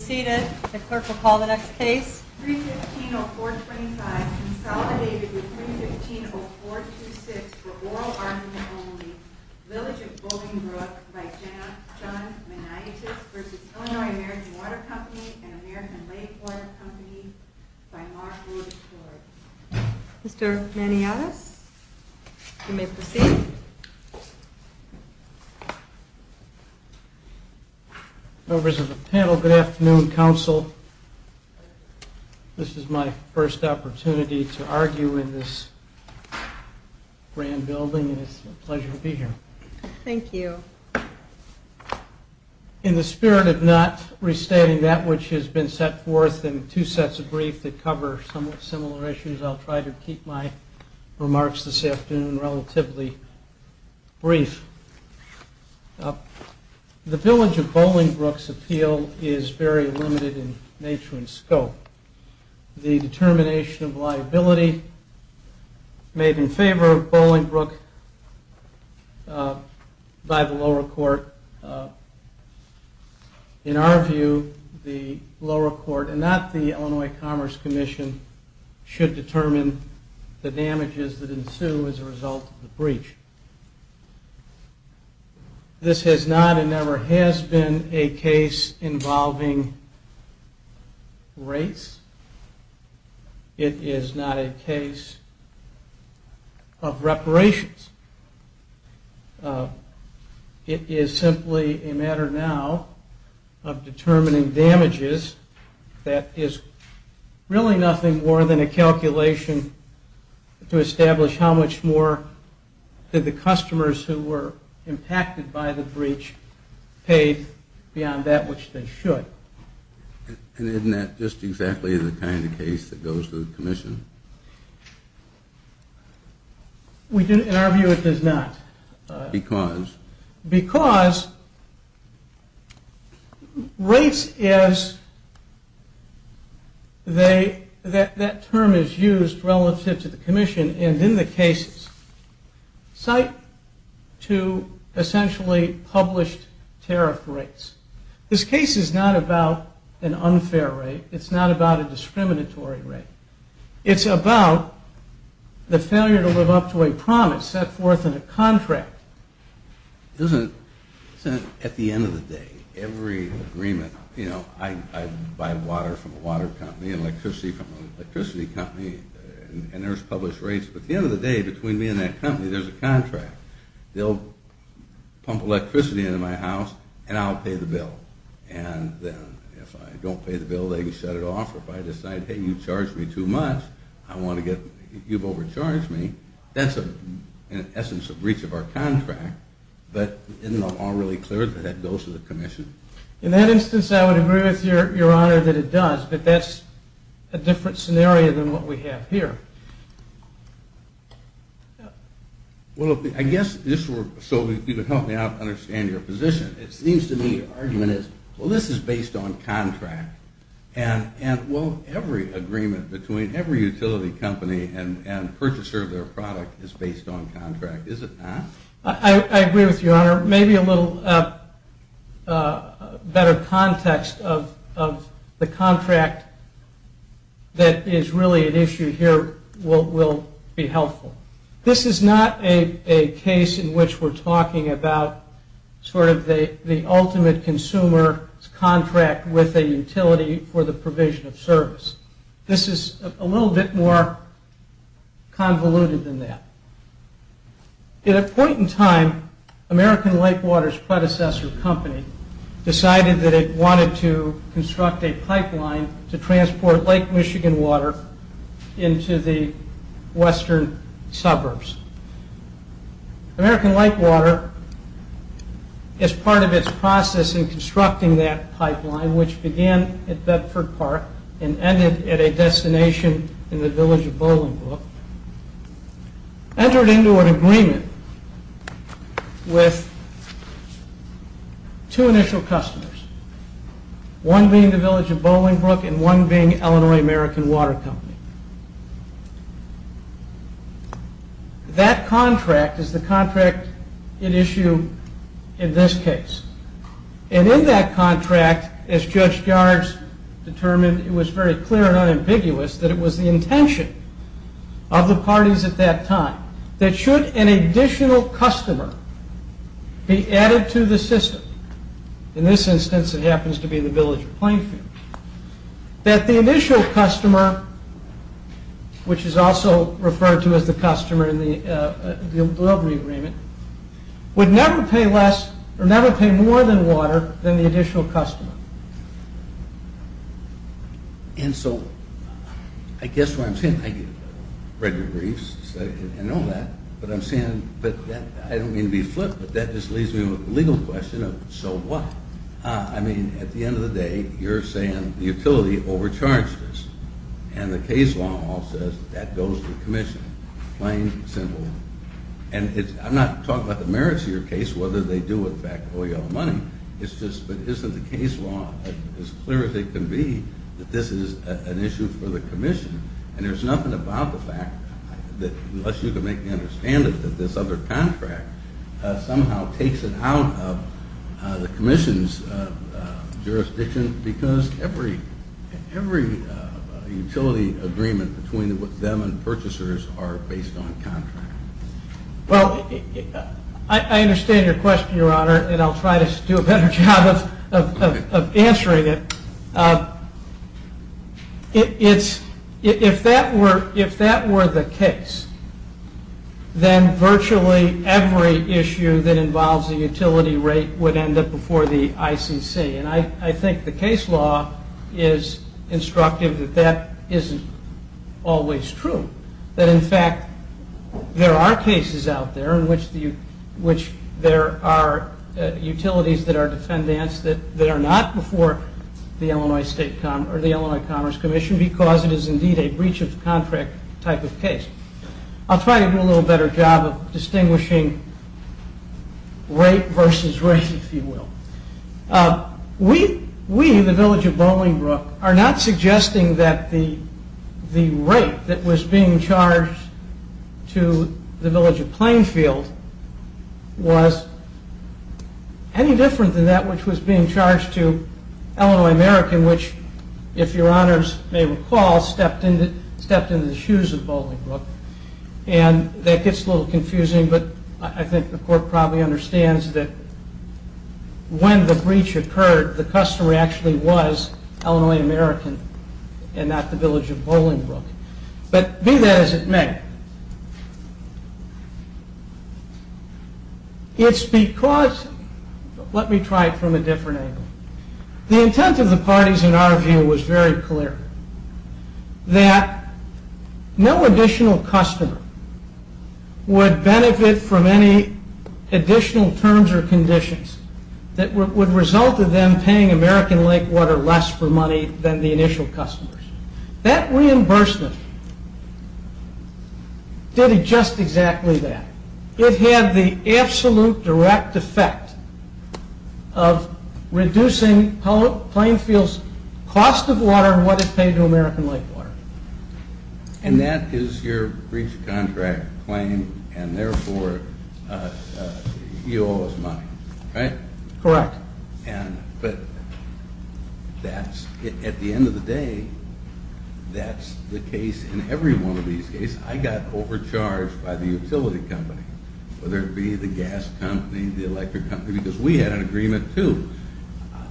315-0425 consolidated with 315-0426 for oral argument only, Village of Bolingbrook by John Maniatis v. Illinois-American Water Company and American Lake Water Company by Mark Wood Ford Mr. Maniatis, you may proceed Members of the panel, good afternoon. Council, this is my first opportunity to argue in this grand building and it's a pleasure to be here. Thank you In the spirit of not restating that which has been set forth in two sets of briefs that cover somewhat similar issues, I'll try to keep my remarks this afternoon relatively brief. The Village of Bolingbrook's appeal is very limited in nature and scope. The determination of liability made in favor of Bolingbrook by the lower court, in our view the lower court and not the Illinois Commerce Commission should determine the damages that ensue as a result of the breach. This has not and never has been a case involving rates. It is not a case of reparations. It is simply a matter now of determining damages that is really nothing more than a calculation to establish how much more did the customers who were impacted by the breach pay beyond that which they should. And isn't that just exactly the kind of case that goes to the commission? In our view it does not. Because? Because rates as that term is used relative to the commission and in the cases cite to essentially published tariff rates. This case is not about an unfair rate. It's not about a discriminatory rate. It's about the failure to live up to a promise set forth in a contract. It isn't at the end of the day. Every agreement, you know, I buy water from a water company and electricity from an electricity company and there's published rates, but at the end of the day between me and that company there's a contract. They'll pump electricity into my house and I'll pay the bill. And then if I don't pay the bill, they can shut it off. If I decide, hey, you charged me too much, you've overcharged me, that's in essence a breach of our contract. But isn't it all really clear that that goes to the commission? In that instance I would agree with your honor that it does, but that's a different scenario than what we have here. Well, I guess just so you can help me out and understand your position, it seems to me your argument is, well, this is based on contract. And well, every agreement between every utility company and purchaser of their product is based on contract. Is it not? I agree with your honor. Maybe a little better context of the contract that is really at issue here will be helpful. This is not a case in which we're talking about sort of the ultimate consumer's contract with a utility for the provision of service. This is a little bit more convoluted than that. At a point in time, American Lake Water's predecessor company decided that it wanted to construct a pipeline to transport Lake Michigan water into the western suburbs. American Lake Water, as part of its process in constructing that pipeline, which began at Bedford Park and ended at a destination in the village of Bolingbrook, entered into an agreement with two initial customers, one being the village of Bolingbrook and one being Illinois American Water Company. That contract is the contract at issue in this case. And in that contract, as Judge Yards determined, it was very clear and unambiguous that it was the intention of the parties at that time that should an additional customer be added to the system, in this instance it happens to be the village of Plainfield, that the initial customer, which is also referred to as the customer in the delivery agreement, would never pay more than water than the additional customer. And so I guess what I'm saying, I get regular briefs and all that, but I don't mean to be flip, but that just leaves me with a legal question of so what? I mean, at the end of the day, you're saying the utility overcharged this, and the case law says that goes to the commission, plain and simple. And I'm not talking about the merits of your case, whether they do in fact owe you all money, it's just that isn't the case law as clear as it can be that this is an issue for the commission, and there's nothing about the fact that, unless you can make me understand it, that this other contract somehow takes it out of the commission's jurisdiction, because every utility agreement between them and purchasers are based on contract. Well, I understand your question, your honor, and I'll try to do a better job of answering it. If that were the case, then virtually every issue that involves a utility rate would end up before the ICC, and I think the case law is instructive that that isn't always true, that in fact there are cases out there in which there are utilities that are defendants that are not before the Illinois Commerce Commission because it is indeed a breach of contract type of case. I'll try to do a little better job of distinguishing rate versus rate, if you will. We, the village of Bolingbroke, are not suggesting that the rate that was being charged to the village of Plainfield was any different than that which was being charged to Illinois American, which, if your honors may recall, stepped into the shoes of Bolingbroke, and that gets a little confusing, but I think the court probably understands that when the breach occurred, the customer actually was Illinois American and not the village of Bolingbroke. But be that as it may, it's because, let me try it from a different angle, the intent of the parties in our view was very clear, that no additional customer would benefit from any additional terms or conditions that would result in them paying American Lake Water less for money than the initial customers. That reimbursement did just exactly that. It had the absolute direct effect of reducing Plainfield's cost of water and what it paid to American Lake Water. And that is your breach of contract claim and therefore you owe us money, right? Correct. But at the end of the day, that's the case in every one of these cases. I got overcharged by the utility company, whether it be the gas company, the electric company, because we had an agreement too.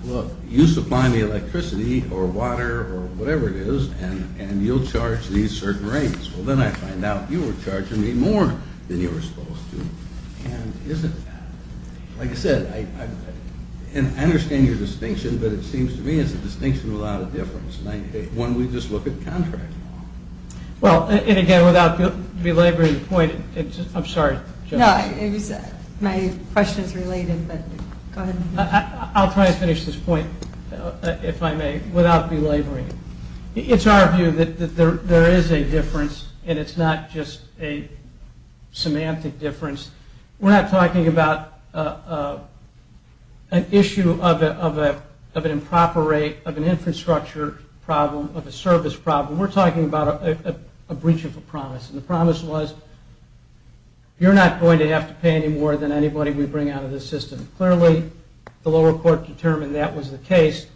Look, you supply me electricity or water or whatever it is and you'll charge these certain rates. Well then I find out you were charging me more than you were supposed to. Like I said, I understand your distinction, but it seems to me it's a distinction without a difference. When we just look at contract law. Well, and again, without belaboring the point, I'm sorry. No, my question is related, but go ahead. I'll try to finish this point, if I may, without belaboring it. It's our view that there is a difference and it's not just a semantic difference. We're not talking about an issue of an improper rate, of an infrastructure problem, of a service problem. We're talking about a breach of a promise. And the promise was you're not going to have to pay any more than anybody we bring out of this system. Clearly, the lower court determined that was the case.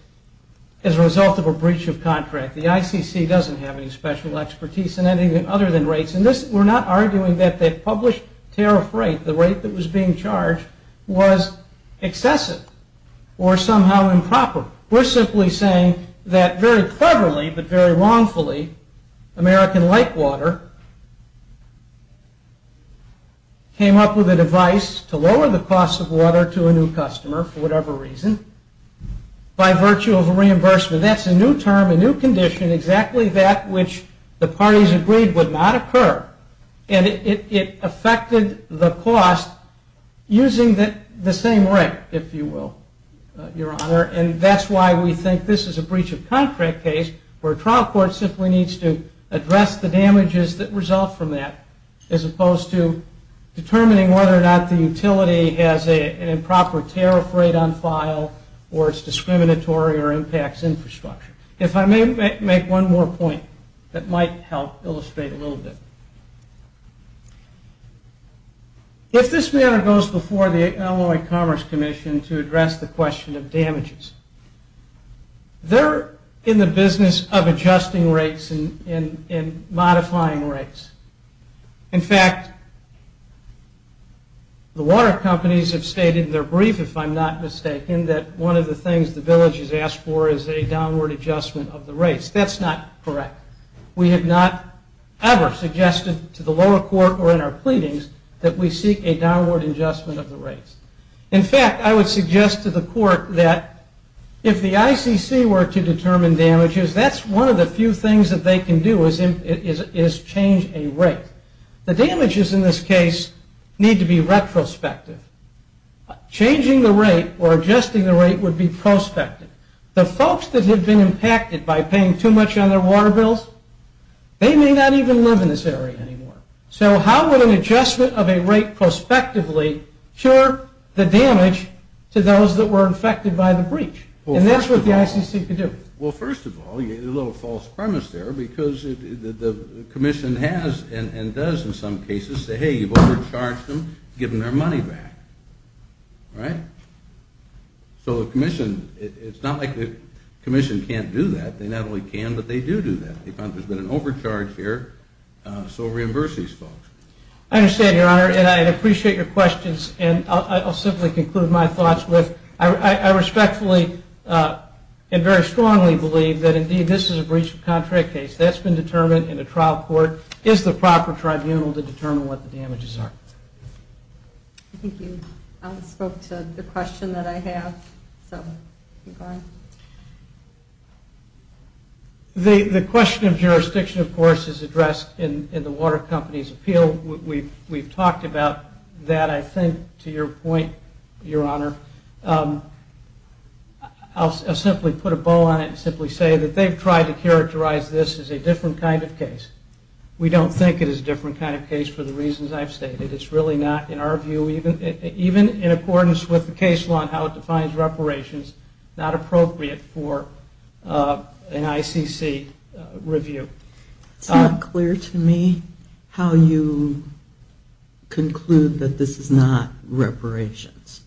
As a result of a breach of contract, the ICC doesn't have any special expertise in anything other than rates. And we're not arguing that the published tariff rate, the rate that was being charged, was excessive or somehow improper. We're simply saying that very cleverly, but very wrongfully, American Lake Water came up with a device to lower the cost of water to a new customer for whatever reason by virtue of a reimbursement. That's a new term, a new condition, exactly that which the parties agreed would not occur. And it affected the cost using the same rate, if you will, Your Honor. And that's why we think this is a breach of contract case, where a trial court simply needs to address the damages that result from that or it's discriminatory or impacts infrastructure. If I may make one more point that might help illustrate a little bit. If this matter goes before the Illinois Commerce Commission to address the question of damages, they're in the business of adjusting rates and modifying rates. In fact, the water companies have stated in their brief, if I'm not mistaken, that one of the things the village has asked for is a downward adjustment of the rates. That's not correct. We have not ever suggested to the lower court or in our pleadings that we seek a downward adjustment of the rates. In fact, I would suggest to the court that if the ICC were to determine damages, that's one of the few things that they can do is change a rate. The damages in this case need to be retrospective. Changing the rate or adjusting the rate would be prospective. The folks that have been impacted by paying too much on their water bills, they may not even live in this area anymore. So how would an adjustment of a rate prospectively cure the damage to those that were affected by the breach? And that's what the ICC could do. Well, first of all, a little false premise there, because the commission has and does in some cases say, hey, you've overcharged them. Give them their money back. All right? So the commission, it's not like the commission can't do that. They not only can, but they do do that. They found there's been an overcharge here, so reimburse these folks. I understand, Your Honor, and I'd appreciate your questions. And I'll simply conclude my thoughts with I respectfully and very strongly believe that, indeed, this is a breach of contract case. That's been determined in a trial court. It's the proper tribunal to determine what the damages are. I think you spoke to the question that I have, so keep going. The question of jurisdiction, of course, is addressed in the water company's appeal. We've talked about that, I think, to your point, Your Honor. I'll simply put a bow on it and simply say that they've tried to characterize this as a different kind of case. We don't think it is a different kind of case for the reasons I've stated. It's really not, in our view, even in accordance with the case law and how it defines reparations, not appropriate for an ICC review. It's not clear to me how you conclude that this is not reparations.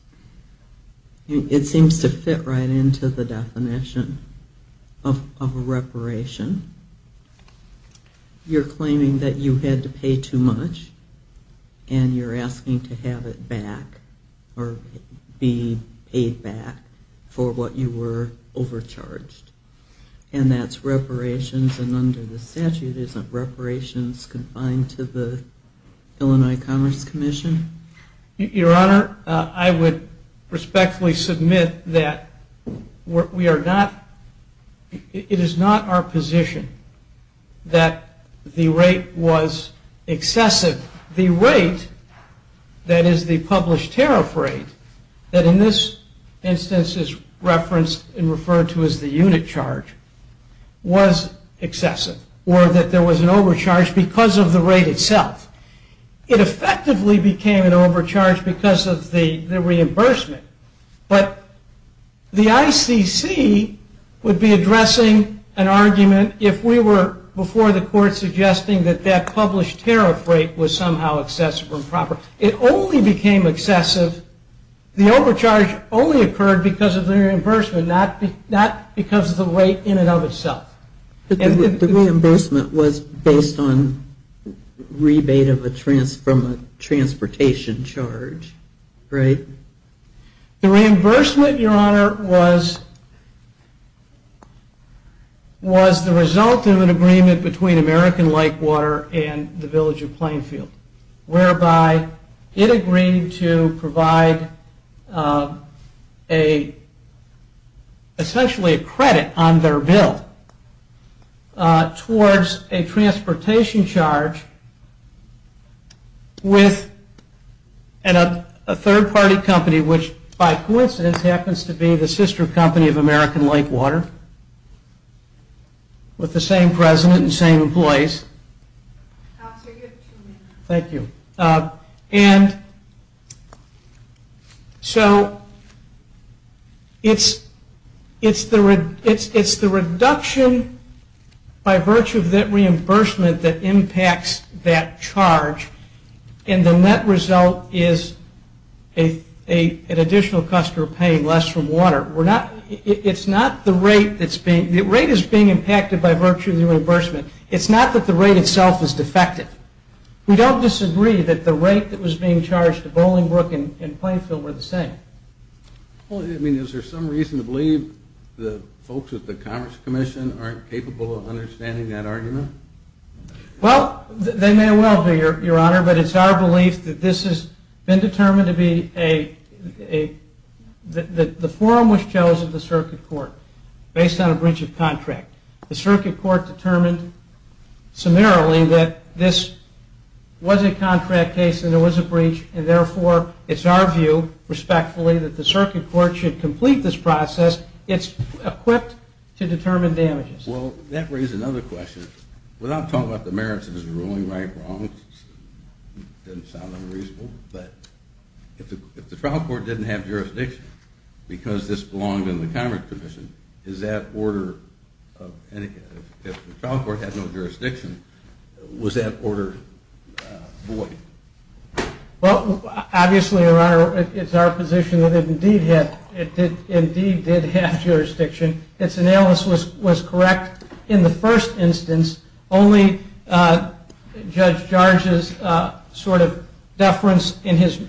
It seems to fit right into the definition of a reparation. You're claiming that you had to pay too much, and you're asking to have it back or be paid back for what you were overcharged. And that's reparations, and under the statute, isn't reparations confined to the Illinois Commerce Commission? Your Honor, I would respectfully submit that it is not our position that the rate was excessive. The rate, that is the published tariff rate, that in this instance is referenced and referred to as the unit charge, was excessive, or that there was an overcharge because of the rate itself. It effectively became an overcharge because of the reimbursement, but the ICC would be addressing an argument if we were, before the court, suggesting that that published tariff rate was somehow excessive or improper. It only became excessive, the overcharge only occurred because of the reimbursement, not because of the rate in and of itself. The reimbursement was based on rebate from a transportation charge, right? The reimbursement, Your Honor, was the result of an agreement between American Lakewater and the village of Plainfield, whereby it agreed to provide essentially a credit on their bill towards a transportation charge with a third-party company, which by coincidence happens to be the sister company of American Lakewater, with the same president and same employees. Thank you. And so it's the reduction by virtue of that reimbursement that impacts that charge, and the net result is an additional customer paying less for water. It's not the rate that's being, the rate is being impacted by virtue of the reimbursement. It's not that the rate itself is defective. We don't disagree that the rate that was being charged to Bolingbrook and Plainfield were the same. Well, I mean, is there some reason to believe the folks at the Commerce Commission aren't capable of understanding that argument? Well, they may well be, Your Honor, but it's our belief that this has been determined to be a, the forum was chosen, the circuit court, based on a breach of contract. The circuit court determined summarily that this was a contract case and there was a breach, and therefore it's our view, respectfully, that the circuit court should complete this process. It's equipped to determine damages. Well, that raises another question. Without talking about the merits of this ruling, right or wrong, it doesn't sound unreasonable, but if the trial court didn't have jurisdiction because this belonged in the Commerce Commission, is that order, if the trial court had no jurisdiction, was that order void? Well, obviously, Your Honor, it's our position that it indeed did have jurisdiction. Its analysis was correct in the first instance. Only Judge George's sort of deference in his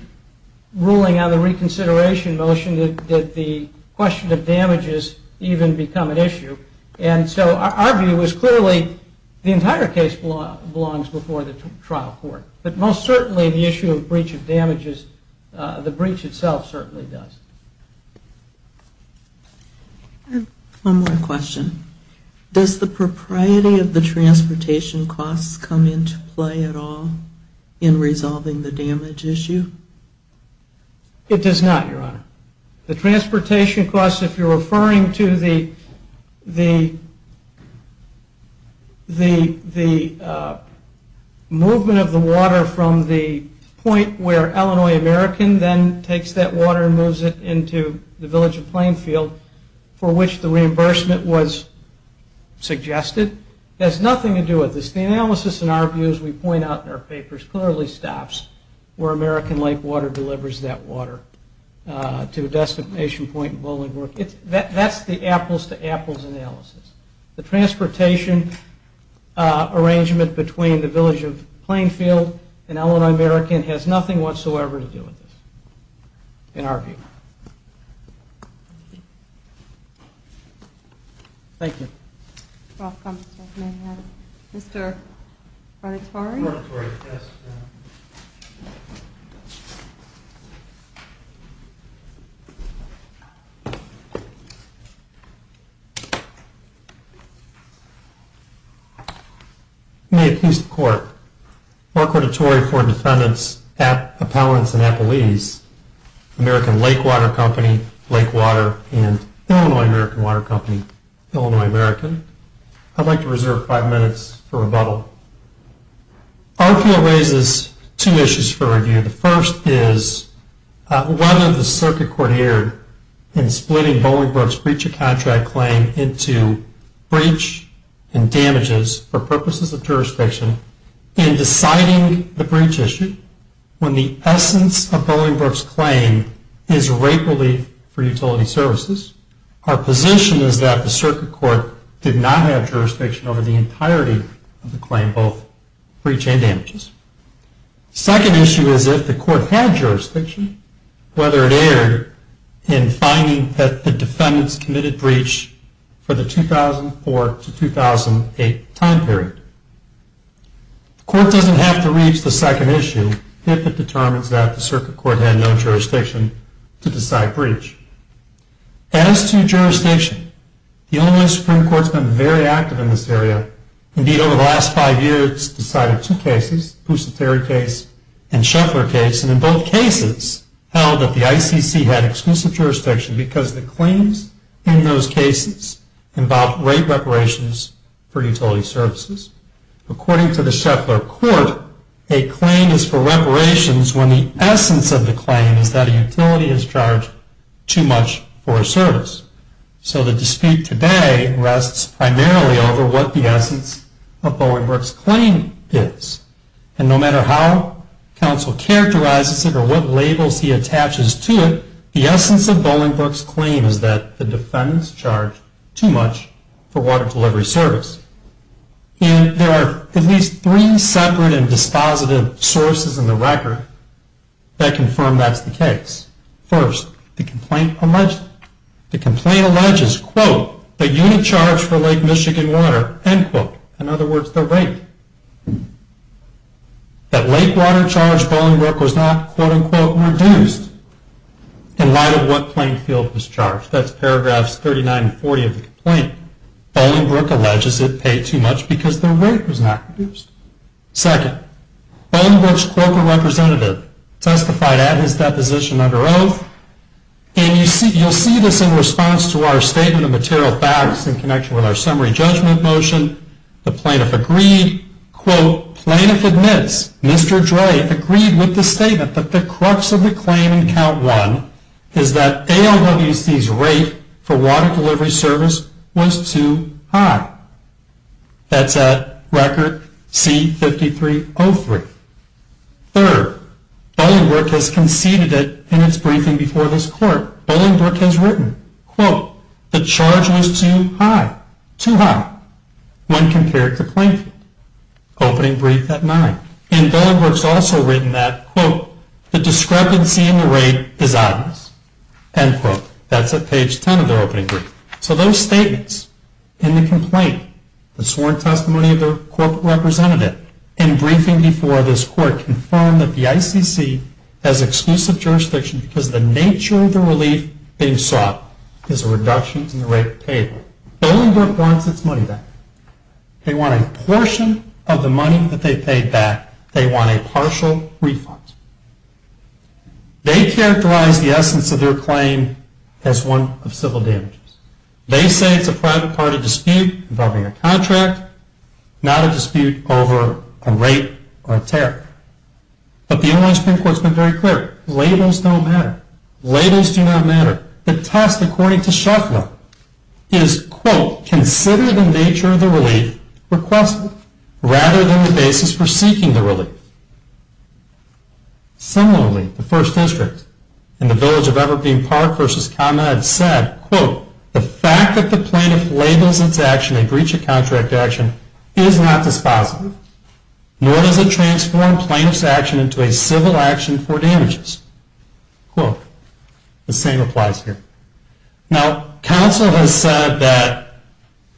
ruling on the reconsideration motion did the question of damages even become an issue. And so our view is clearly the entire case belongs before the trial court, but most certainly the issue of breach of damages, the breach itself certainly does. One more question. Does the propriety of the transportation costs come into play at all in resolving the damage issue? It does not, Your Honor. The transportation costs, if you're referring to the movement of the water from the point where Illinois American then takes that water and moves it into the village of Plainfield for which the reimbursement was suggested, has nothing to do with this. The analysis, in our view, as we point out in our papers, clearly stops where American Lake Water delivers that water to a destination point. That's the apples-to-apples analysis. The transportation arrangement between the village of Plainfield and Illinois American has nothing whatsoever to do with this, in our view. Thank you. Welcome, Mr. McMahon. Mr. Rodatori? Rodatori, yes, Your Honor. May it please the Court, Mark Rodatori for defendants Appellants and Appellees, American Lake Water Company, Lake Water, and Illinois American Water Company, Illinois American. I'd like to reserve five minutes for rebuttal. Our appeal raises two issues for review. The first is whether the circuit court erred in splitting Bolingbroke's breach of contract claim into breach and damages for purposes of jurisdiction in deciding the breach issue when the essence of Bolingbroke's claim is rape relief for utility services. Our position is that the circuit court did not have jurisdiction over the entirety of the claim, both breach and damages. The second issue is if the court had jurisdiction, whether it erred in finding that the defendants committed breach for the 2004 to 2008 time period. The court doesn't have to reach the second issue if it determines that the circuit court had no jurisdiction to decide breach. As to jurisdiction, the Illinois Supreme Court's been very active in this area. Indeed, over the last five years, it's decided two cases, Boussiteri case and Sheffler case, and in both cases held that the ICC had exclusive jurisdiction because the claims in those cases involved rape reparations for utility services. According to the Sheffler court, a claim is for reparations when the essence of the claim is that a utility has charged too much for a service. So the dispute today rests primarily over what the essence of Bolingbroke's claim is. And no matter how counsel characterizes it or what labels he attaches to it, the essence of Bolingbroke's claim is that the defendants charged too much for water delivery service. And there are at least three separate and dispositive sources in the record that confirm that's the case. First, the complaint alleges, quote, that you didn't charge for Lake Michigan water, end quote. In other words, the rape. That lake water charge, Bolingbroke was not, quote, end quote, reduced in light of what plain field was charged. That's paragraphs 39 and 40 of the complaint. Bolingbroke alleges it paid too much because the rape was not reduced. Second, Bolingbroke's Quokka representative testified at his deposition under oath. And you'll see this in response to our statement of material facts in connection with our summary judgment motion. The plaintiff agreed, quote, Plaintiff admits, Mr. Dre, agreed with the statement that the crux of the claim in count one is that ALWC's rate for water delivery service was too high. That's at record C-5303. Third, Bolingbroke has conceded it in its briefing before this court. Bolingbroke has written, quote, the charge was too high, too high, when compared to plain field. Opening brief at nine. And Bolingbroke's also written that, quote, the discrepancy in the rate is obvious, end quote. That's at page 10 of their opening brief. So those statements in the complaint, the sworn testimony of the Quokka representative, in briefing before this court, confirm that the ICC has exclusive jurisdiction because the nature of the relief being sought is a reduction in the rate paid. Bolingbroke wants its money back. They want a portion of the money that they paid back. They want a partial refund. They characterize the essence of their claim as one of civil damages. They say it's a private party dispute involving a contract, not a dispute over a rate or a tariff. But the ALS Supreme Court has been very clear. Labels don't matter. Labels do not matter. The test, according to Shuffla, is, quote, consider the nature of the relief requested rather than the basis for seeking the relief. Similarly, the First District in the village of Evergreen Park versus ComEd said, quote, the fact that the plaintiff labels its action a breach of contract action is not dispositive, nor does it transform plaintiff's action into a civil action for damages. Quote. The same applies here. Now, counsel has said that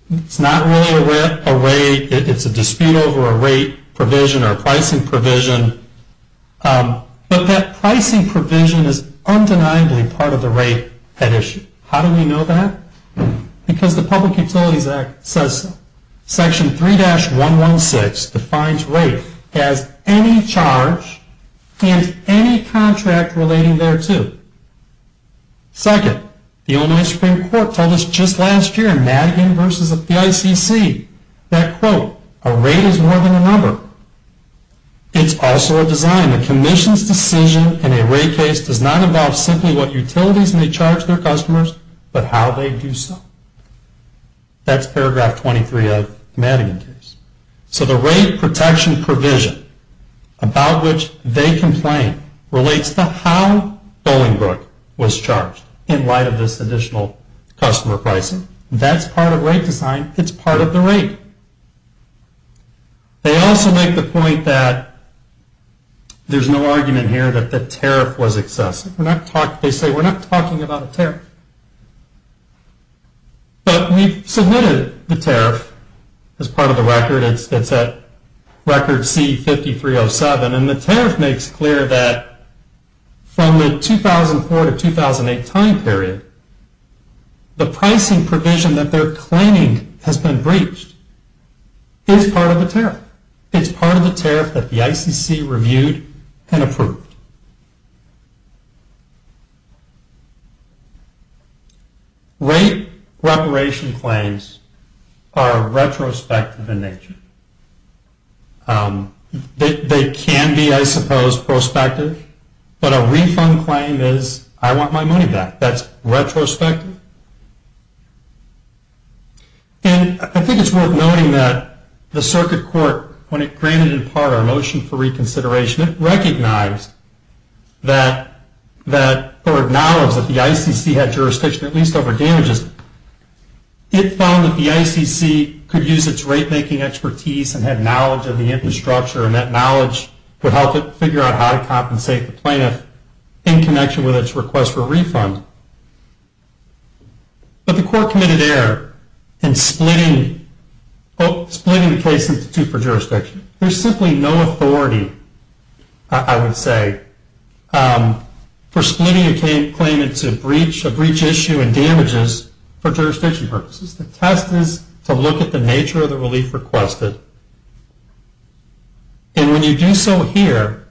it's not really a rate, it's a dispute over a rate provision or a pricing provision, but that pricing provision is undeniably part of the rate at issue. How do we know that? Because the Public Utilities Act says so. 3-116 defines rate as any charge and any contract relating thereto. Second, the ALS Supreme Court told us just last year in Madigan versus the ICC that, quote, a rate is more than a number. It's also a design. A commission's decision in a rate case does not involve simply what utilities may charge their customers, but how they do so. That's paragraph 23 of the Madigan case. So the rate protection provision about which they complain relates to how Bolingbroke was charged in light of this additional customer pricing. That's part of rate design. It's part of the rate. They also make the point that there's no argument here that the tariff was excessive. They say we're not talking about a tariff, but we've submitted the tariff as part of the record. It's at record C-5307, and the tariff makes clear that from the 2004 to 2008 time period, the pricing provision that they're claiming has been breached is part of the tariff. It's part of the tariff that the ICC reviewed and approved. Rate reparation claims are retrospective in nature. They can be, I suppose, prospective, but a refund claim is I want my money back. That's retrospective. And I think it's worth noting that the circuit court, when it granted in part our motion for reconsideration, it recognized or acknowledged that the ICC had jurisdiction at least over damages. It found that the ICC could use its rate-making expertise and had knowledge of the infrastructure, and that knowledge would help it figure out how to compensate the plaintiff in connection with its request for refund. But the court committed error in splitting the case into two for jurisdiction. There's simply no authority, I would say, for splitting a claim into a breach issue and damages for jurisdiction purposes. The test is to look at the nature of the relief requested, and when you do so here,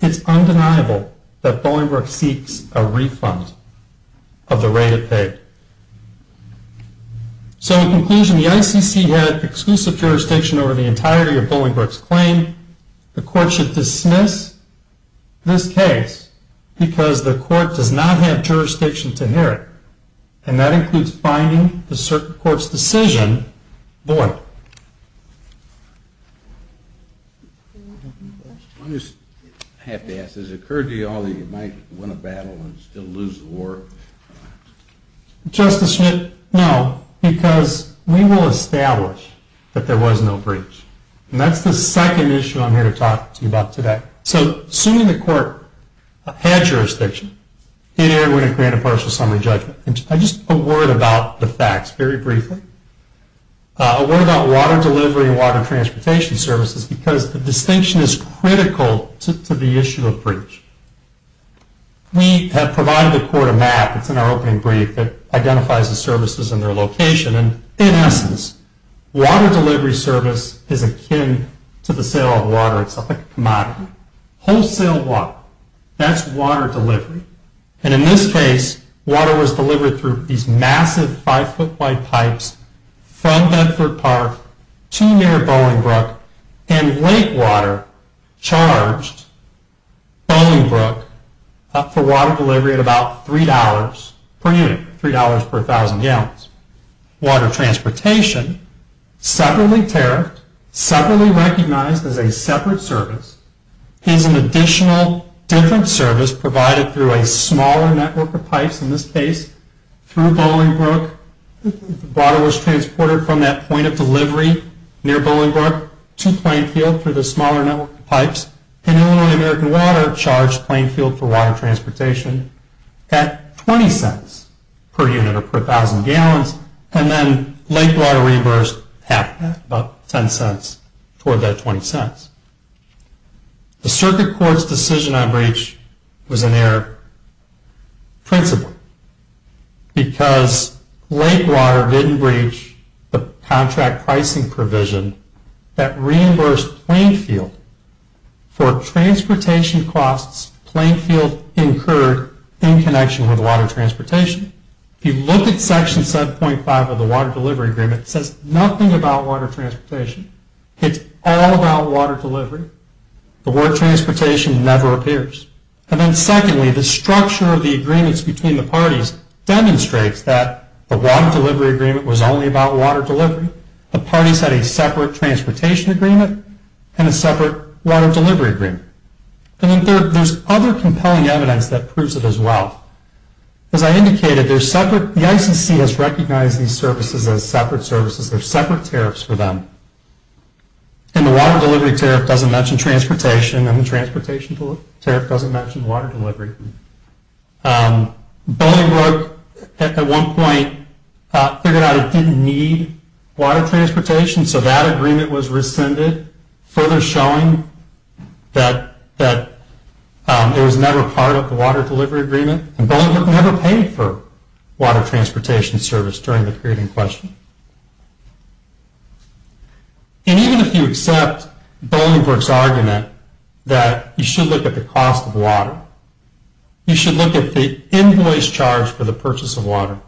it's undeniable that Bolingbroke seeks a refund. of the rate it paid. So in conclusion, the ICC had exclusive jurisdiction over the entirety of Bolingbroke's claim. The court should dismiss this case because the court does not have jurisdiction to hear it, and that includes binding the circuit court's decision void. I just have to ask, has it occurred to you all that you might win a battle and still lose the war? Justice Schmidt, no, because we will establish that there was no breach, and that's the second issue I'm here to talk to you about today. So assuming the court had jurisdiction, it would have granted partial summary judgment. Just a word about the facts very briefly. A word about water delivery and water transportation services because the distinction is critical to the issue of breach. We have provided the court a map, it's in our opening brief, that identifies the services and their location, and in essence, water delivery service is akin to the sale of water itself, like a commodity. Wholesale water, that's water delivery. And in this case, water was delivered through these massive 5-foot-wide pipes from Bedford Park to near Bowling Brook, and Lake Water charged Bowling Brook for water delivery at about $3 per unit, $3 per 1,000 gallons. Water transportation, separately tariffed, separately recognized as a separate service, is an additional different service that was provided through a smaller network of pipes, in this case, through Bowling Brook. Water was transported from that point of delivery near Bowling Brook to Plainfield through the smaller network of pipes, and Illinois American Water charged Plainfield for water transportation at $0.20 per unit, or per 1,000 gallons, and then Lake Water reimbursed half that, about $0.10, toward that $0.20. The Circuit Court's decision on breach was an error principally, because Lake Water didn't breach the contract pricing provision that reimbursed Plainfield for transportation costs Plainfield incurred in connection with water transportation. If you look at Section 7.5 of the Water Delivery Agreement, it says nothing about water transportation. It's all about water delivery. The word transportation never appears. And then secondly, the structure of the agreements between the parties demonstrates that the Water Delivery Agreement was only about water delivery. The parties had a separate transportation agreement and a separate water delivery agreement. And then third, there's other compelling evidence that proves it as well. As I indicated, the ICC has recognized these services as separate services. They're separate tariffs for them. And the water delivery tariff doesn't mention transportation, and the transportation tariff doesn't mention water delivery. Bolingbroke, at one point, figured out it didn't need water transportation, so that agreement was rescinded, further showing that it was never part of the Water Delivery Agreement, and Bolingbroke never paid for water transportation service during the period in question. And even if you accept Bolingbroke's argument that you should look at the cost of water, you should look at the invoice charge for the purchase of water.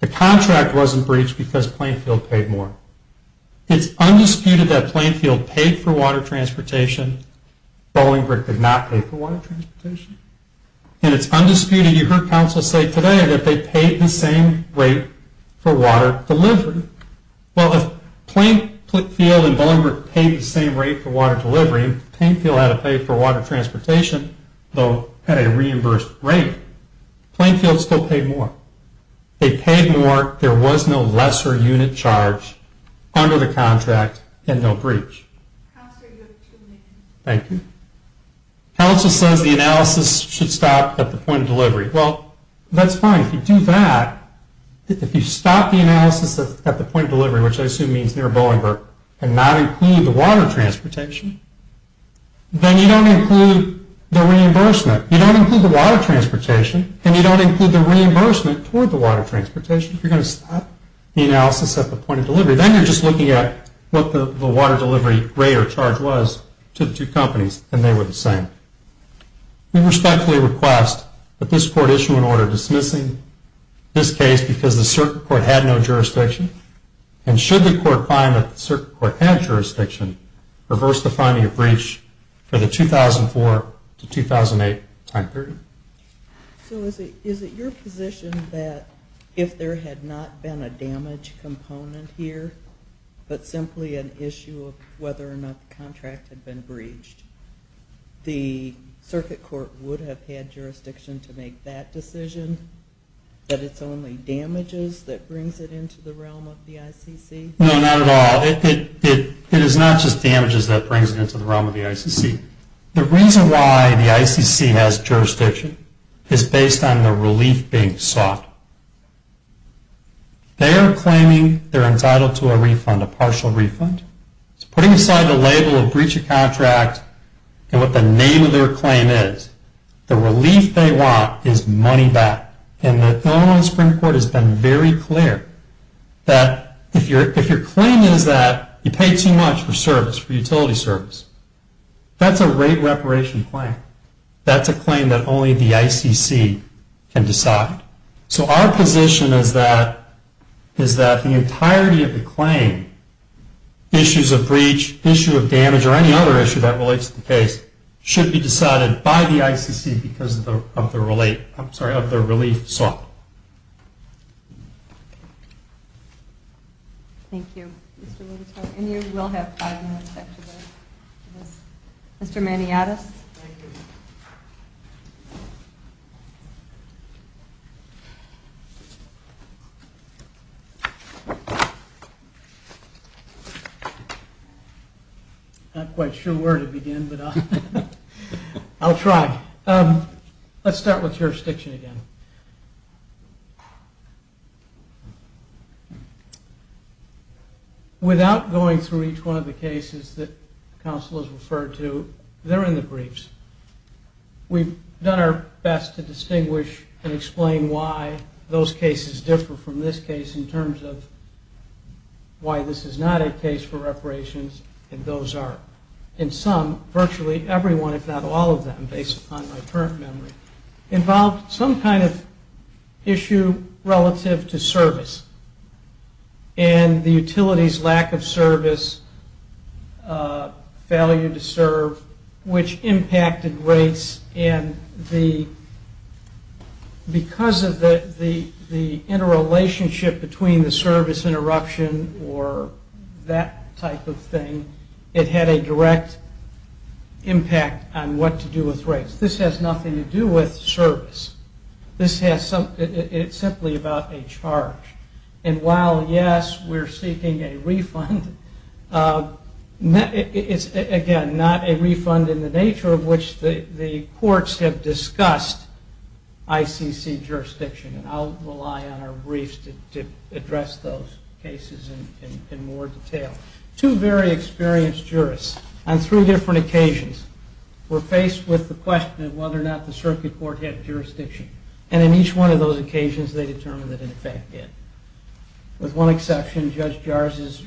The contract wasn't breached because Plainfield paid more. It's undisputed that Plainfield paid for water transportation. Bolingbroke did not pay for water transportation. And it's undisputed, you heard counsel say today, that they paid the same rate for water delivery. Well, if Plainfield and Bolingbroke paid the same rate for water delivery, Plainfield had to pay for water transportation, though at a reimbursed rate. Plainfield still paid more. They paid more. There was no lesser unit charge under the contract, and no breach. Thank you. Counsel says the analysis should stop at the point of delivery. Well, that's fine. If you do that, if you stop the analysis at the point of delivery, which I assume means near Bolingbroke, and not include the water transportation, then you don't include the reimbursement. You don't include the water transportation, and you don't include the reimbursement toward the water transportation. You're going to stop the analysis at the point of delivery. Then you're just looking at what the water delivery rate or charge was to the two companies, and they were the same. We respectfully request that this court issue an order dismissing this case because the circuit court had no jurisdiction, and should the court find that the circuit court had jurisdiction, reverse the finding of breach for the 2004 to 2008 time period. So is it your position that if there had not been a damage component here, but simply an issue of whether or not the contract had been breached, the circuit court would have had jurisdiction to make that decision, that it's only damages that brings it into the realm of the ICC? No, not at all. It is not just damages that brings it into the realm of the ICC. The reason why the ICC has jurisdiction is based on the relief being sought. They are claiming they're entitled to a refund, a partial refund. It's putting aside the label of breach of contract and what the name of their claim is. The relief they want is money back, and the Illinois Supreme Court has been very clear that if your claim is that you paid too much for service, for utility service, that's a rate reparation claim. That's a claim that only the ICC can decide. So our position is that the entirety of the claim, issues of breach, issue of damage, or any other issue that relates to the case should be decided by the ICC because of the relief sought. Thank you, Mr. Littletown. And you will have five minutes back to go. Mr. Maniatis? Thank you. I'm not quite sure where to begin, but I'll try. Let's start with jurisdiction again. Without going through each one of the cases that counsel has referred to, they're in the briefs. We've done our best to distinguish and explain why those cases differ from this case in terms of why this is not a case for reparations and those are. In some, virtually everyone, if not all of them, based upon my current memory, involved some kind of issue relative to service. And the utility's lack of service, failure to serve, which impacted rates and because of the interrelationship between the service interruption or that type of thing, it had a direct impact on what to do with rates. This has nothing to do with service. It's simply about a charge. And while, yes, we're seeking a refund, it's, again, not a refund in the nature of which the courts have discussed ICC jurisdiction. I'll rely on our briefs to address those cases in more detail. Two very experienced jurists on three different occasions were faced with the question of whether or not the circuit court had jurisdiction. And in each one of those occasions, they determined that, in fact, it did. With one exception, Judge Jarz's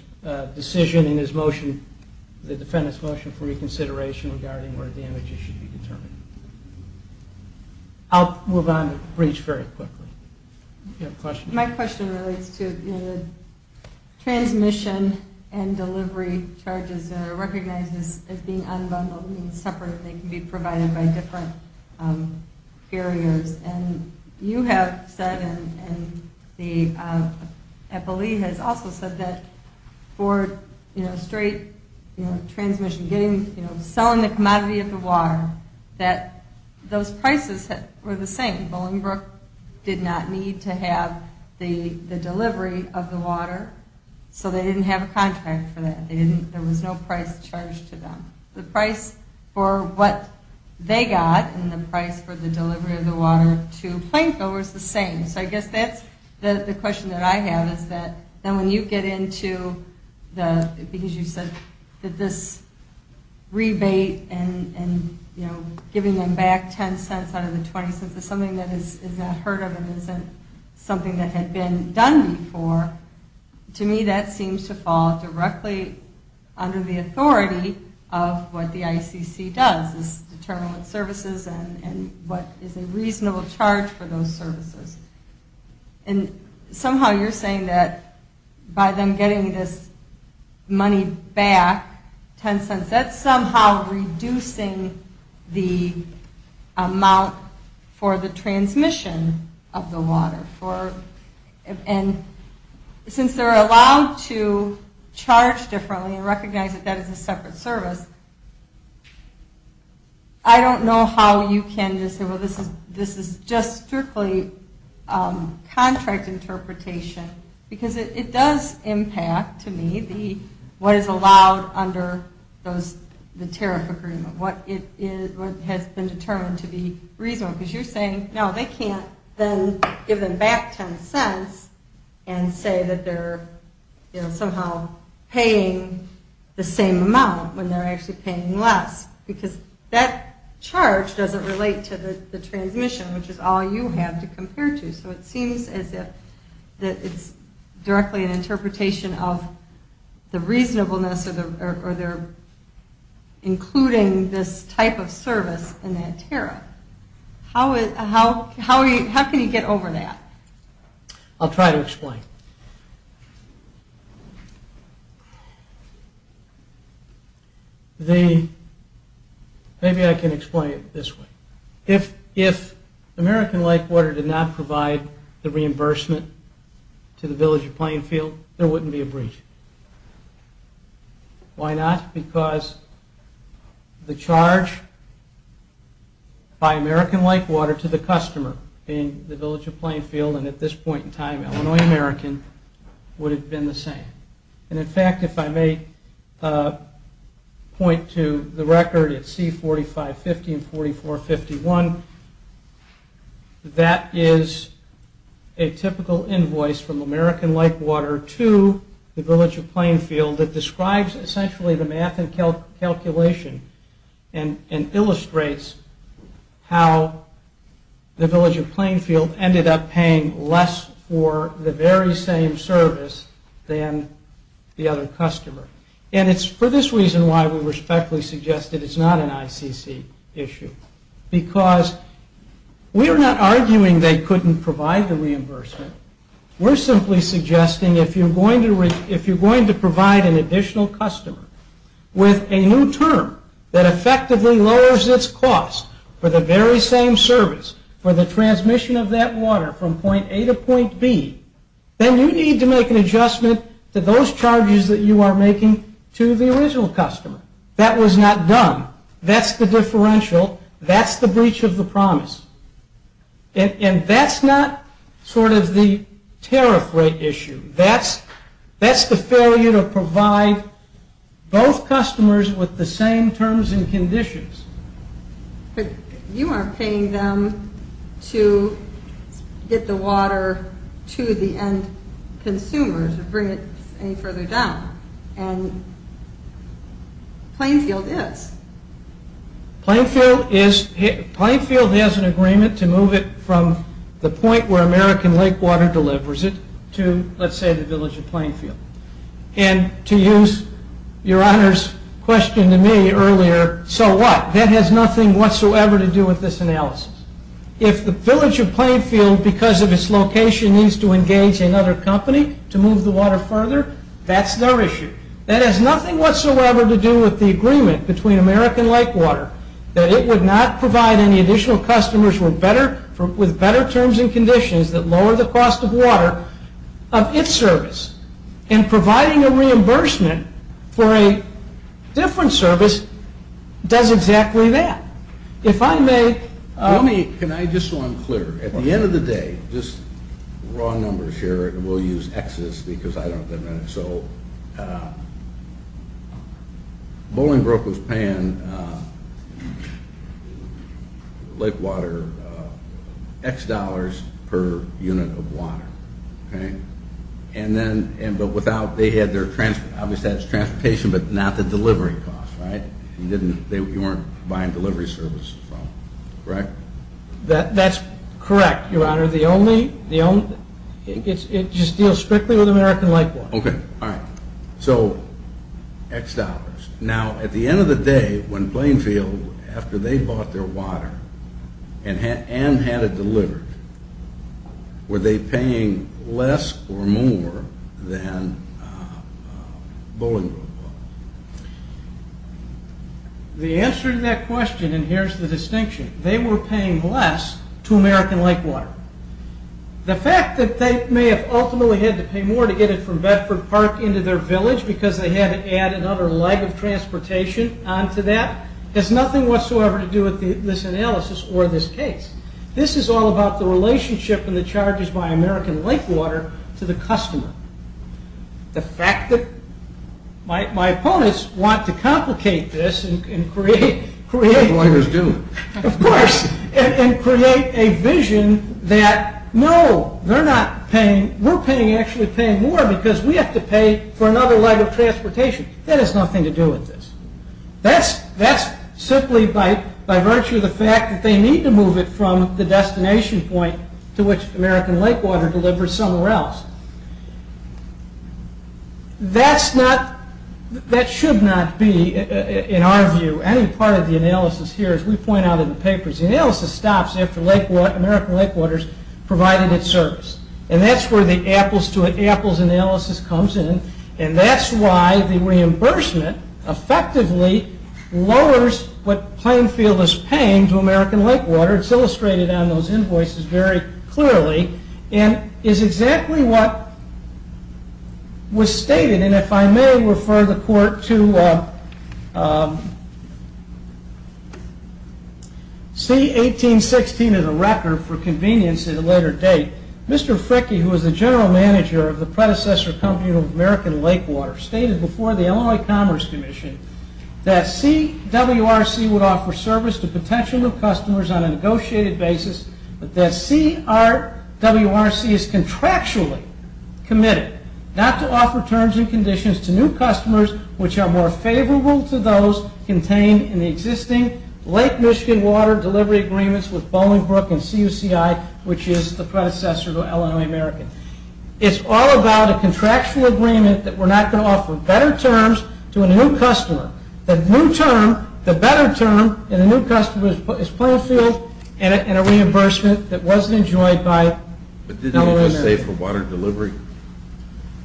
decision in his motion, the defendant's motion for reconsideration regarding whether damages should be determined. I'll move on to the briefs very quickly. Do you have a question? My question relates to the transmission and delivery charges that are recognized as being unbundled and separate and they can be provided by different carriers. And you have said and I believe has also said that for straight transmission, selling the commodity of the water, that those prices were the same. Bolingbroke did not need to have the delivery of the water, so they didn't have a contract for that. There was no price charged to them. The price for what they got and the price for the delivery of the water to plainfillers was the same. So I guess that's the question that I have, is that when you get into the, because you said that this rebate and giving them back 10 cents out of the 20 cents is something that is not heard of and isn't something that had been done before. To me, that seems to fall directly under the authority of what the ICC does is determine what services and what is a reasonable charge for those services. And somehow you're saying that by them getting this money back, 10 cents, that's somehow reducing the amount for the transmission of the water. And since they're allowed to charge differently and recognize that that is a separate service, I don't know how you can just say, well, this is just strictly contract interpretation. Because it does impact, to me, what is allowed under the tariff agreement, what has been determined to be reasonable. Because you're saying, no, they can't then give them back 10 cents and say that they're somehow paying the same amount when they're actually paying less. Because that charge doesn't relate to the transmission, which is all you have to compare to. So it seems as if it's directly an interpretation of the reasonableness or they're including this type of service in that tariff. How can you get over that? I'll try to explain. Maybe I can explain it this way. If American Lake Water did not provide the reimbursement to the village of Plainfield, there wouldn't be a breach. Why not? Because the charge by American Lake Water to the customer, being the village of Plainfield and at this point in time, Illinois American, would have been the same. And in fact, if I may point to the record at C4550 and 4451, that is a typical invoice from American Lake Water to the village of Plainfield that describes essentially the math and calculation and illustrates how the village of Plainfield ended up paying less for the very same service than the other customer. And it's for this reason why we respectfully suggest that it's not an ICC issue. Because we're not arguing they couldn't provide the reimbursement. We're simply suggesting if you're going to provide an additional customer with a new term that effectively lowers its cost for the very same service, for the transmission of that water from point A to point B, then you need to make an adjustment to those charges that you are making to the original customer. That was not done. That's the differential. That's the breach of the promise. And that's not sort of the tariff rate issue. That's the failure to provide both customers with the same terms and conditions. But you aren't paying them to get the water to the end consumers or bring it any further down. And Plainfield is. Plainfield has an agreement to move it from the point where American Lake Water delivers it to, let's say, the village of Plainfield. And to use Your Honor's question to me earlier, so what? That has nothing whatsoever to do with this analysis. If the village of Plainfield, because of its location, needs to engage another company to move the water further, that's their issue. That has nothing whatsoever to do with the agreement between American Lake Water that it would not provide any additional customers with better terms and conditions that lower the cost of water of its service. And providing a reimbursement for a different service does exactly that. If I may. Can I just so I'm clear? At the end of the day, just raw numbers here, and we'll use X's because I don't have that many. So Bowling Brook was paying Lake Water X dollars per unit of water. But without, they had their, obviously that's transportation, but not the delivery cost, right? You weren't buying delivery services from them, correct? That's correct, Your Honor. It just deals strictly with American Lake Water. Okay, all right. So X dollars. Now, at the end of the day, when Plainfield, after they bought their water and had it delivered, were they paying less or more than Bowling Brook was? The answer to that question, and here's the distinction, they were paying less to American Lake Water. The fact that they may have ultimately had to pay more to get it from Bedford Park into their village because they had to add another leg of transportation onto that has nothing whatsoever to do with this analysis or this case. This is all about the relationship and the charges by American Lake Water to the customer. The fact that my opponents want to complicate this and create a vision that, no, we're actually paying more because we have to pay for another leg of transportation. That has nothing to do with this. That's simply by virtue of the fact that they need to move it from the destination point to which American Lake Water delivers somewhere else. That should not be, in our view, any part of the analysis here, as we point out in the papers. The analysis stops after American Lake Water's provided its service, and that's where the apples to apples analysis comes in, and that's why the reimbursement effectively lowers what Plainfield is paying to American Lake Water. It's illustrated on those invoices very clearly and is exactly what was stated, and if I may refer the court to C-1816 of the record for convenience at a later date. Mr. Fricke, who was the general manager of the predecessor company of American Lake Water, stated before the Illinois Commerce Commission that CWRC would offer service to potential new customers on a negotiated basis, but that CWRC is contractually committed not to offer terms and conditions to new customers which are more favorable to those contained in the existing Lake Michigan Water delivery agreements with Bolingbrook and CUCI, which is the predecessor to Illinois American. It's all about a contractual agreement that we're not going to offer better terms to a new customer. The new term, the better term in a new customer is Plainfield and a reimbursement that wasn't enjoyed by Illinois American. But didn't he just say for water delivery?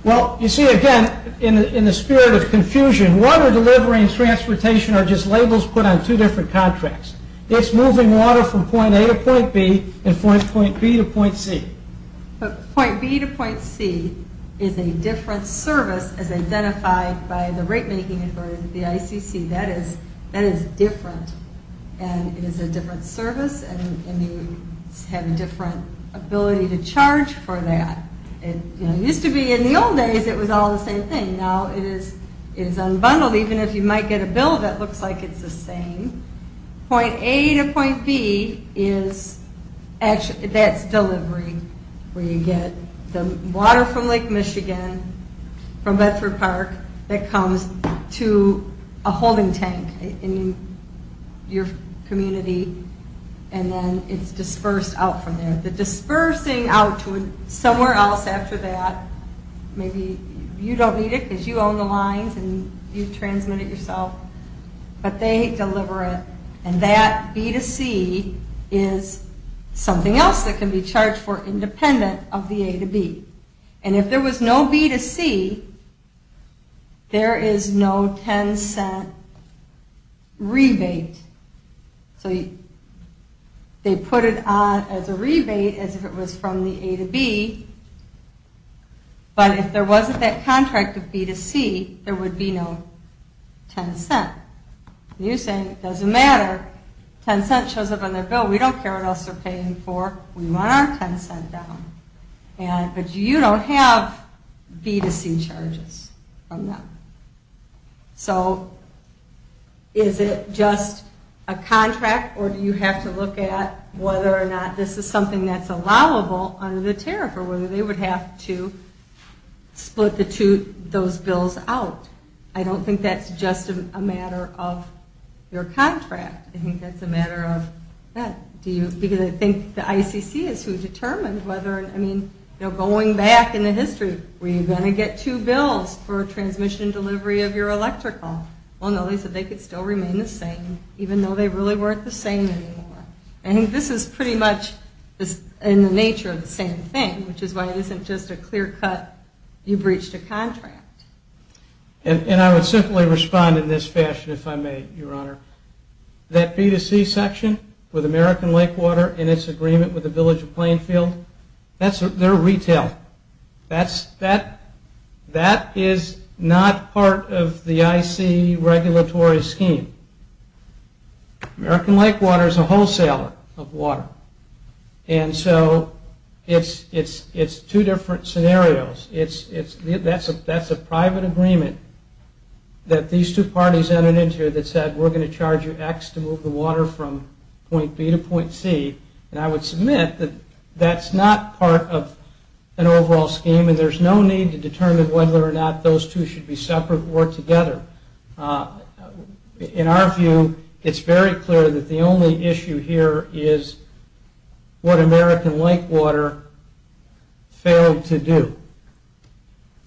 Well, you see again, in the spirit of confusion, water delivery and transportation are just labels put on two different contracts. It's moving water from point A to point B and point B to point C. But point B to point C is a different service as identified by the rate making authority, the ICC. That is different and it is a different service and you have a different ability to charge for that. It used to be in the old days it was all the same thing. Now it is unbundled, even if you might get a bill that looks like it's the same. Point A to point B, that's delivery where you get the water from Lake Michigan from Bedford Park that comes to a holding tank in your community and then it's dispersed out from there. The dispersing out to somewhere else after that, maybe you don't need it because you own the lines and you transmit it yourself, but they deliver it and that B to C is something else that can be charged for independent of the A to B. And if there was no B to C, there is no 10 cent rebate. So they put it on as a rebate as if it was from the A to B, but if there wasn't that contract of B to C, there would be no 10 cent. You're saying it doesn't matter, 10 cent shows up on their bill, we don't care what else they're paying for, we want our 10 cent down. But you don't have B to C charges from them. So is it just a contract or do you have to look at whether or not this is something that's allowable under the tariff or whether they would have to split those bills out? I don't think that's just a matter of your contract. I think that's a matter of, because I think the ICC is who determined whether, I mean, going back in the history, were you going to get two bills for transmission and delivery of your electrical? Well, no, they said they could still remain the same even though they really weren't the same anymore. I think this is pretty much in the nature of the same thing, which is why it isn't just a clear cut, you breached a contract. And I would simply respond in this fashion if I may, Your Honor. That B to C section with American Lakewater and its agreement with the Village of Plainfield, that's their retail. That is not part of the IC regulatory scheme. American Lakewater is a wholesaler of water. And so it's two different scenarios. That's a private agreement that these two parties entered into that said we're going to charge you X to move the water from point B to point C. And I would submit that that's not part of an overall scheme, and there's no need to determine whether or not those two should be separate or together. In our view, it's very clear that the only issue here is what American Lakewater failed to do.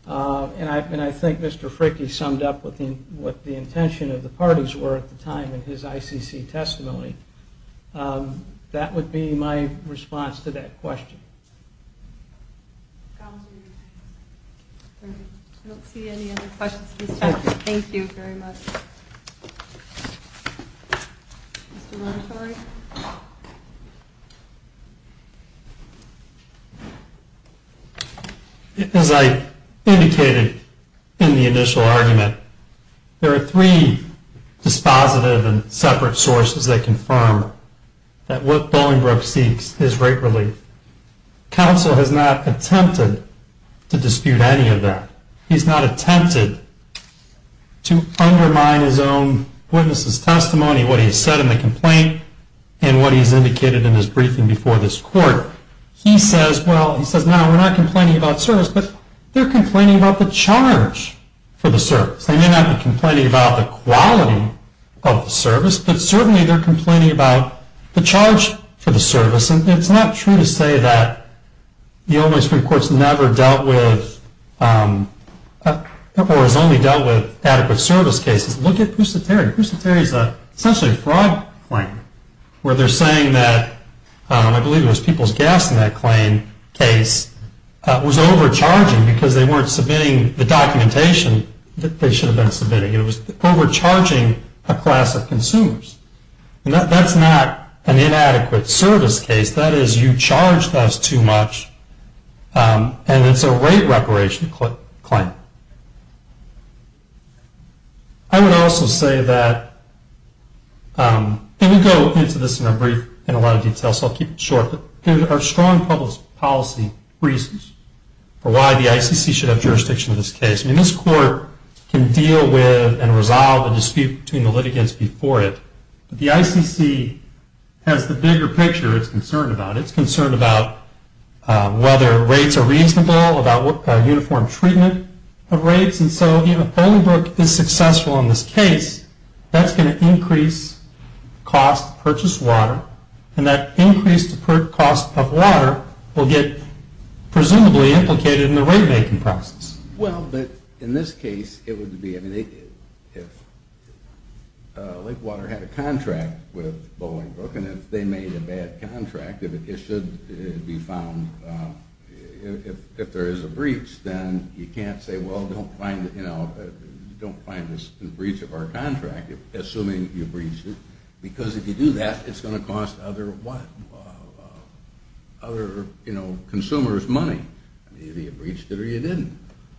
And I think Mr. Fricke summed up what the intention of the parties were at the time in his ICC testimony. That would be my response to that question. I don't see any other questions. Thank you very much. Thank you. As I indicated in the initial argument, there are three dispositive and separate sources that confirm that what Bollingbrook seeks is rate relief. Counsel has not attempted to dispute any of that. He's not attempted to undermine his own witness' testimony, what he's said in the complaint, and what he's indicated in his briefing before this court. He says, well, he says, no, we're not complaining about service, but they're complaining about the charge for the service. They may not be complaining about the quality of the service, but certainly they're complaining about the charge for the service. And it's not true to say that the only Supreme Court's never dealt with or has only dealt with adequate service cases. Look at Poussé-Terry. Poussé-Terry is essentially a fraud claim, where they're saying that I believe it was people's gas in that claim case was overcharging because they weren't submitting the documentation that they should have been submitting. It was overcharging a class of consumers. And that's not an inadequate service case. That is, you charged us too much, and it's a rate reparation claim. I would also say that, and we'll go into this in a lot of detail, so I'll keep it short, but there are strong public policy reasons for why the ICC should have jurisdiction in this case. I mean, this court can deal with and resolve the dispute between the ICC has the bigger picture it's concerned about. It's concerned about whether rates are reasonable, about uniform treatment of rates. And so if Bolingbroke is successful in this case, that's going to increase cost to purchase water, and that increased cost of water will get presumably implicated in the rate making process. Well, but in this case, it would be, I mean, if Lake Water had a contract with Bolingbroke, and if they made a bad contract, if it should be found, if there is a breach, then you can't say, well, don't find this breach of our contract, assuming you breached it, because if you do that, it's going to cost other consumers money. I mean, either you breached it or you didn't.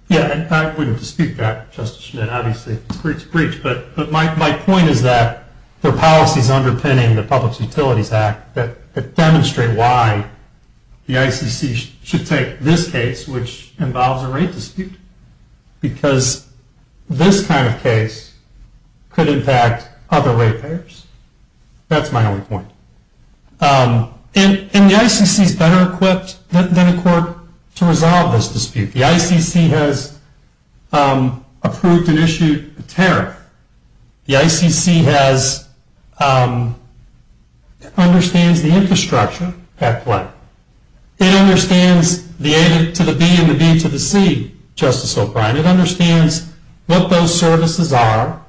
Yeah, and I wouldn't dispute that, Justice Schmidt, obviously, if it's a breach. But my point is that there are policies underpinning the Public Utilities Act that demonstrate why the ICC should take this case, which involves a rate dispute, because this kind of case could impact other rate payers. That's my only point. And the ICC is better equipped than a court to resolve this dispute. The ICC has approved and issued a tariff. The ICC understands the infrastructure at play. It understands the A to the B and the B to the C, Justice O'Brien. It understands what those services are.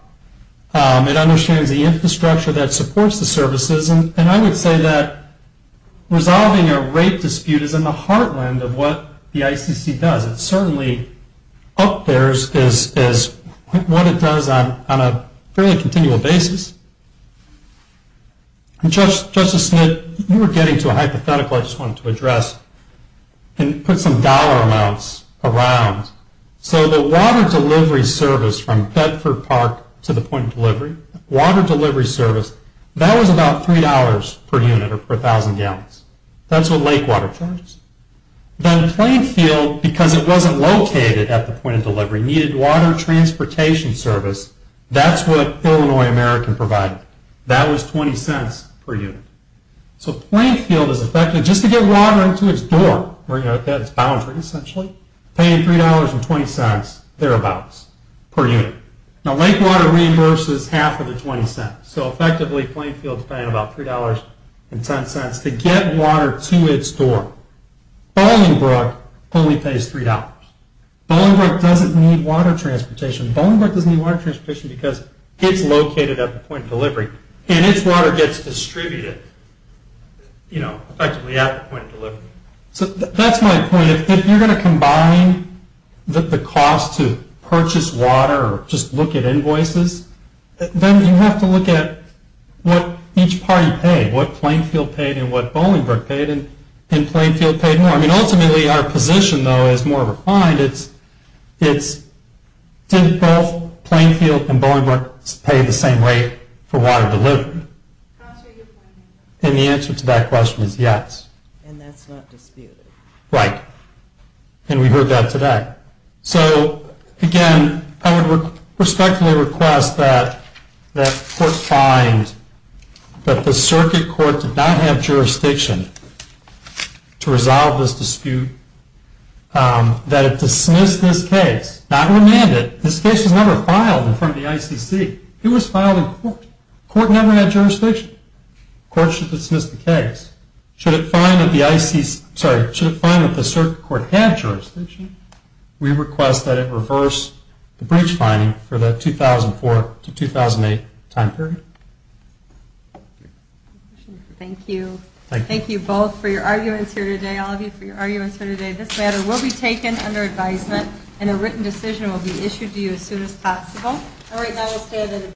It understands the infrastructure that supports the services. And I would say that resolving a rate dispute is in the heartland of what the ICC does. It certainly up there is what it does on a fairly continual basis. And, Justice Schmidt, you were getting to a hypothetical I just wanted to address and put some dollar amounts around. So the water delivery service from Bedford Park to the point of delivery, water delivery service, that was about $3 per unit or per thousand gallons. That's what lake water charges. Then Plainfield, because it wasn't located at the point of delivery, needed water transportation service. That's what Illinois American provided. That was $0.20 per unit. So Plainfield is effectively, just to get water into its door, that's boundary essentially, paying $3.20 thereabouts per unit. Now lake water reimburses half of the $0.20. So effectively, Plainfield is paying about $3.10 to get water to its door. Bolingbrook only pays $3.00. Bolingbrook doesn't need water transportation. Bolingbrook doesn't need water transportation because it's located at the point of delivery and its water gets distributed effectively at the point of delivery. So that's my point. If you're going to combine the cost to purchase water or just look at invoices, then you have to look at what each party paid, what Plainfield paid and what Bolingbrook paid, and did Plainfield pay more? I mean, ultimately, our position, though, is more refined. It's did both Plainfield and Bolingbrook pay the same rate for water delivery? That's a good point. And the answer to that question is yes. And that's not disputed. Right. And we heard that today. So, again, I would respectfully request that court find that the circuit court did not have jurisdiction to resolve this dispute, that it dismiss this case, not remand it. This case was never filed in front of the ICC. It was filed in court. The court never had jurisdiction. The court should dismiss the case. Should it find that the circuit court had jurisdiction, we request that it reverse the breach finding for the 2004 to 2008 time period. Thank you. Thank you. Thank you both for your arguments here today, all of you, for your arguments here today. This matter will be taken under advisement, and a written decision will be issued to you as soon as possible. All right. Thank you.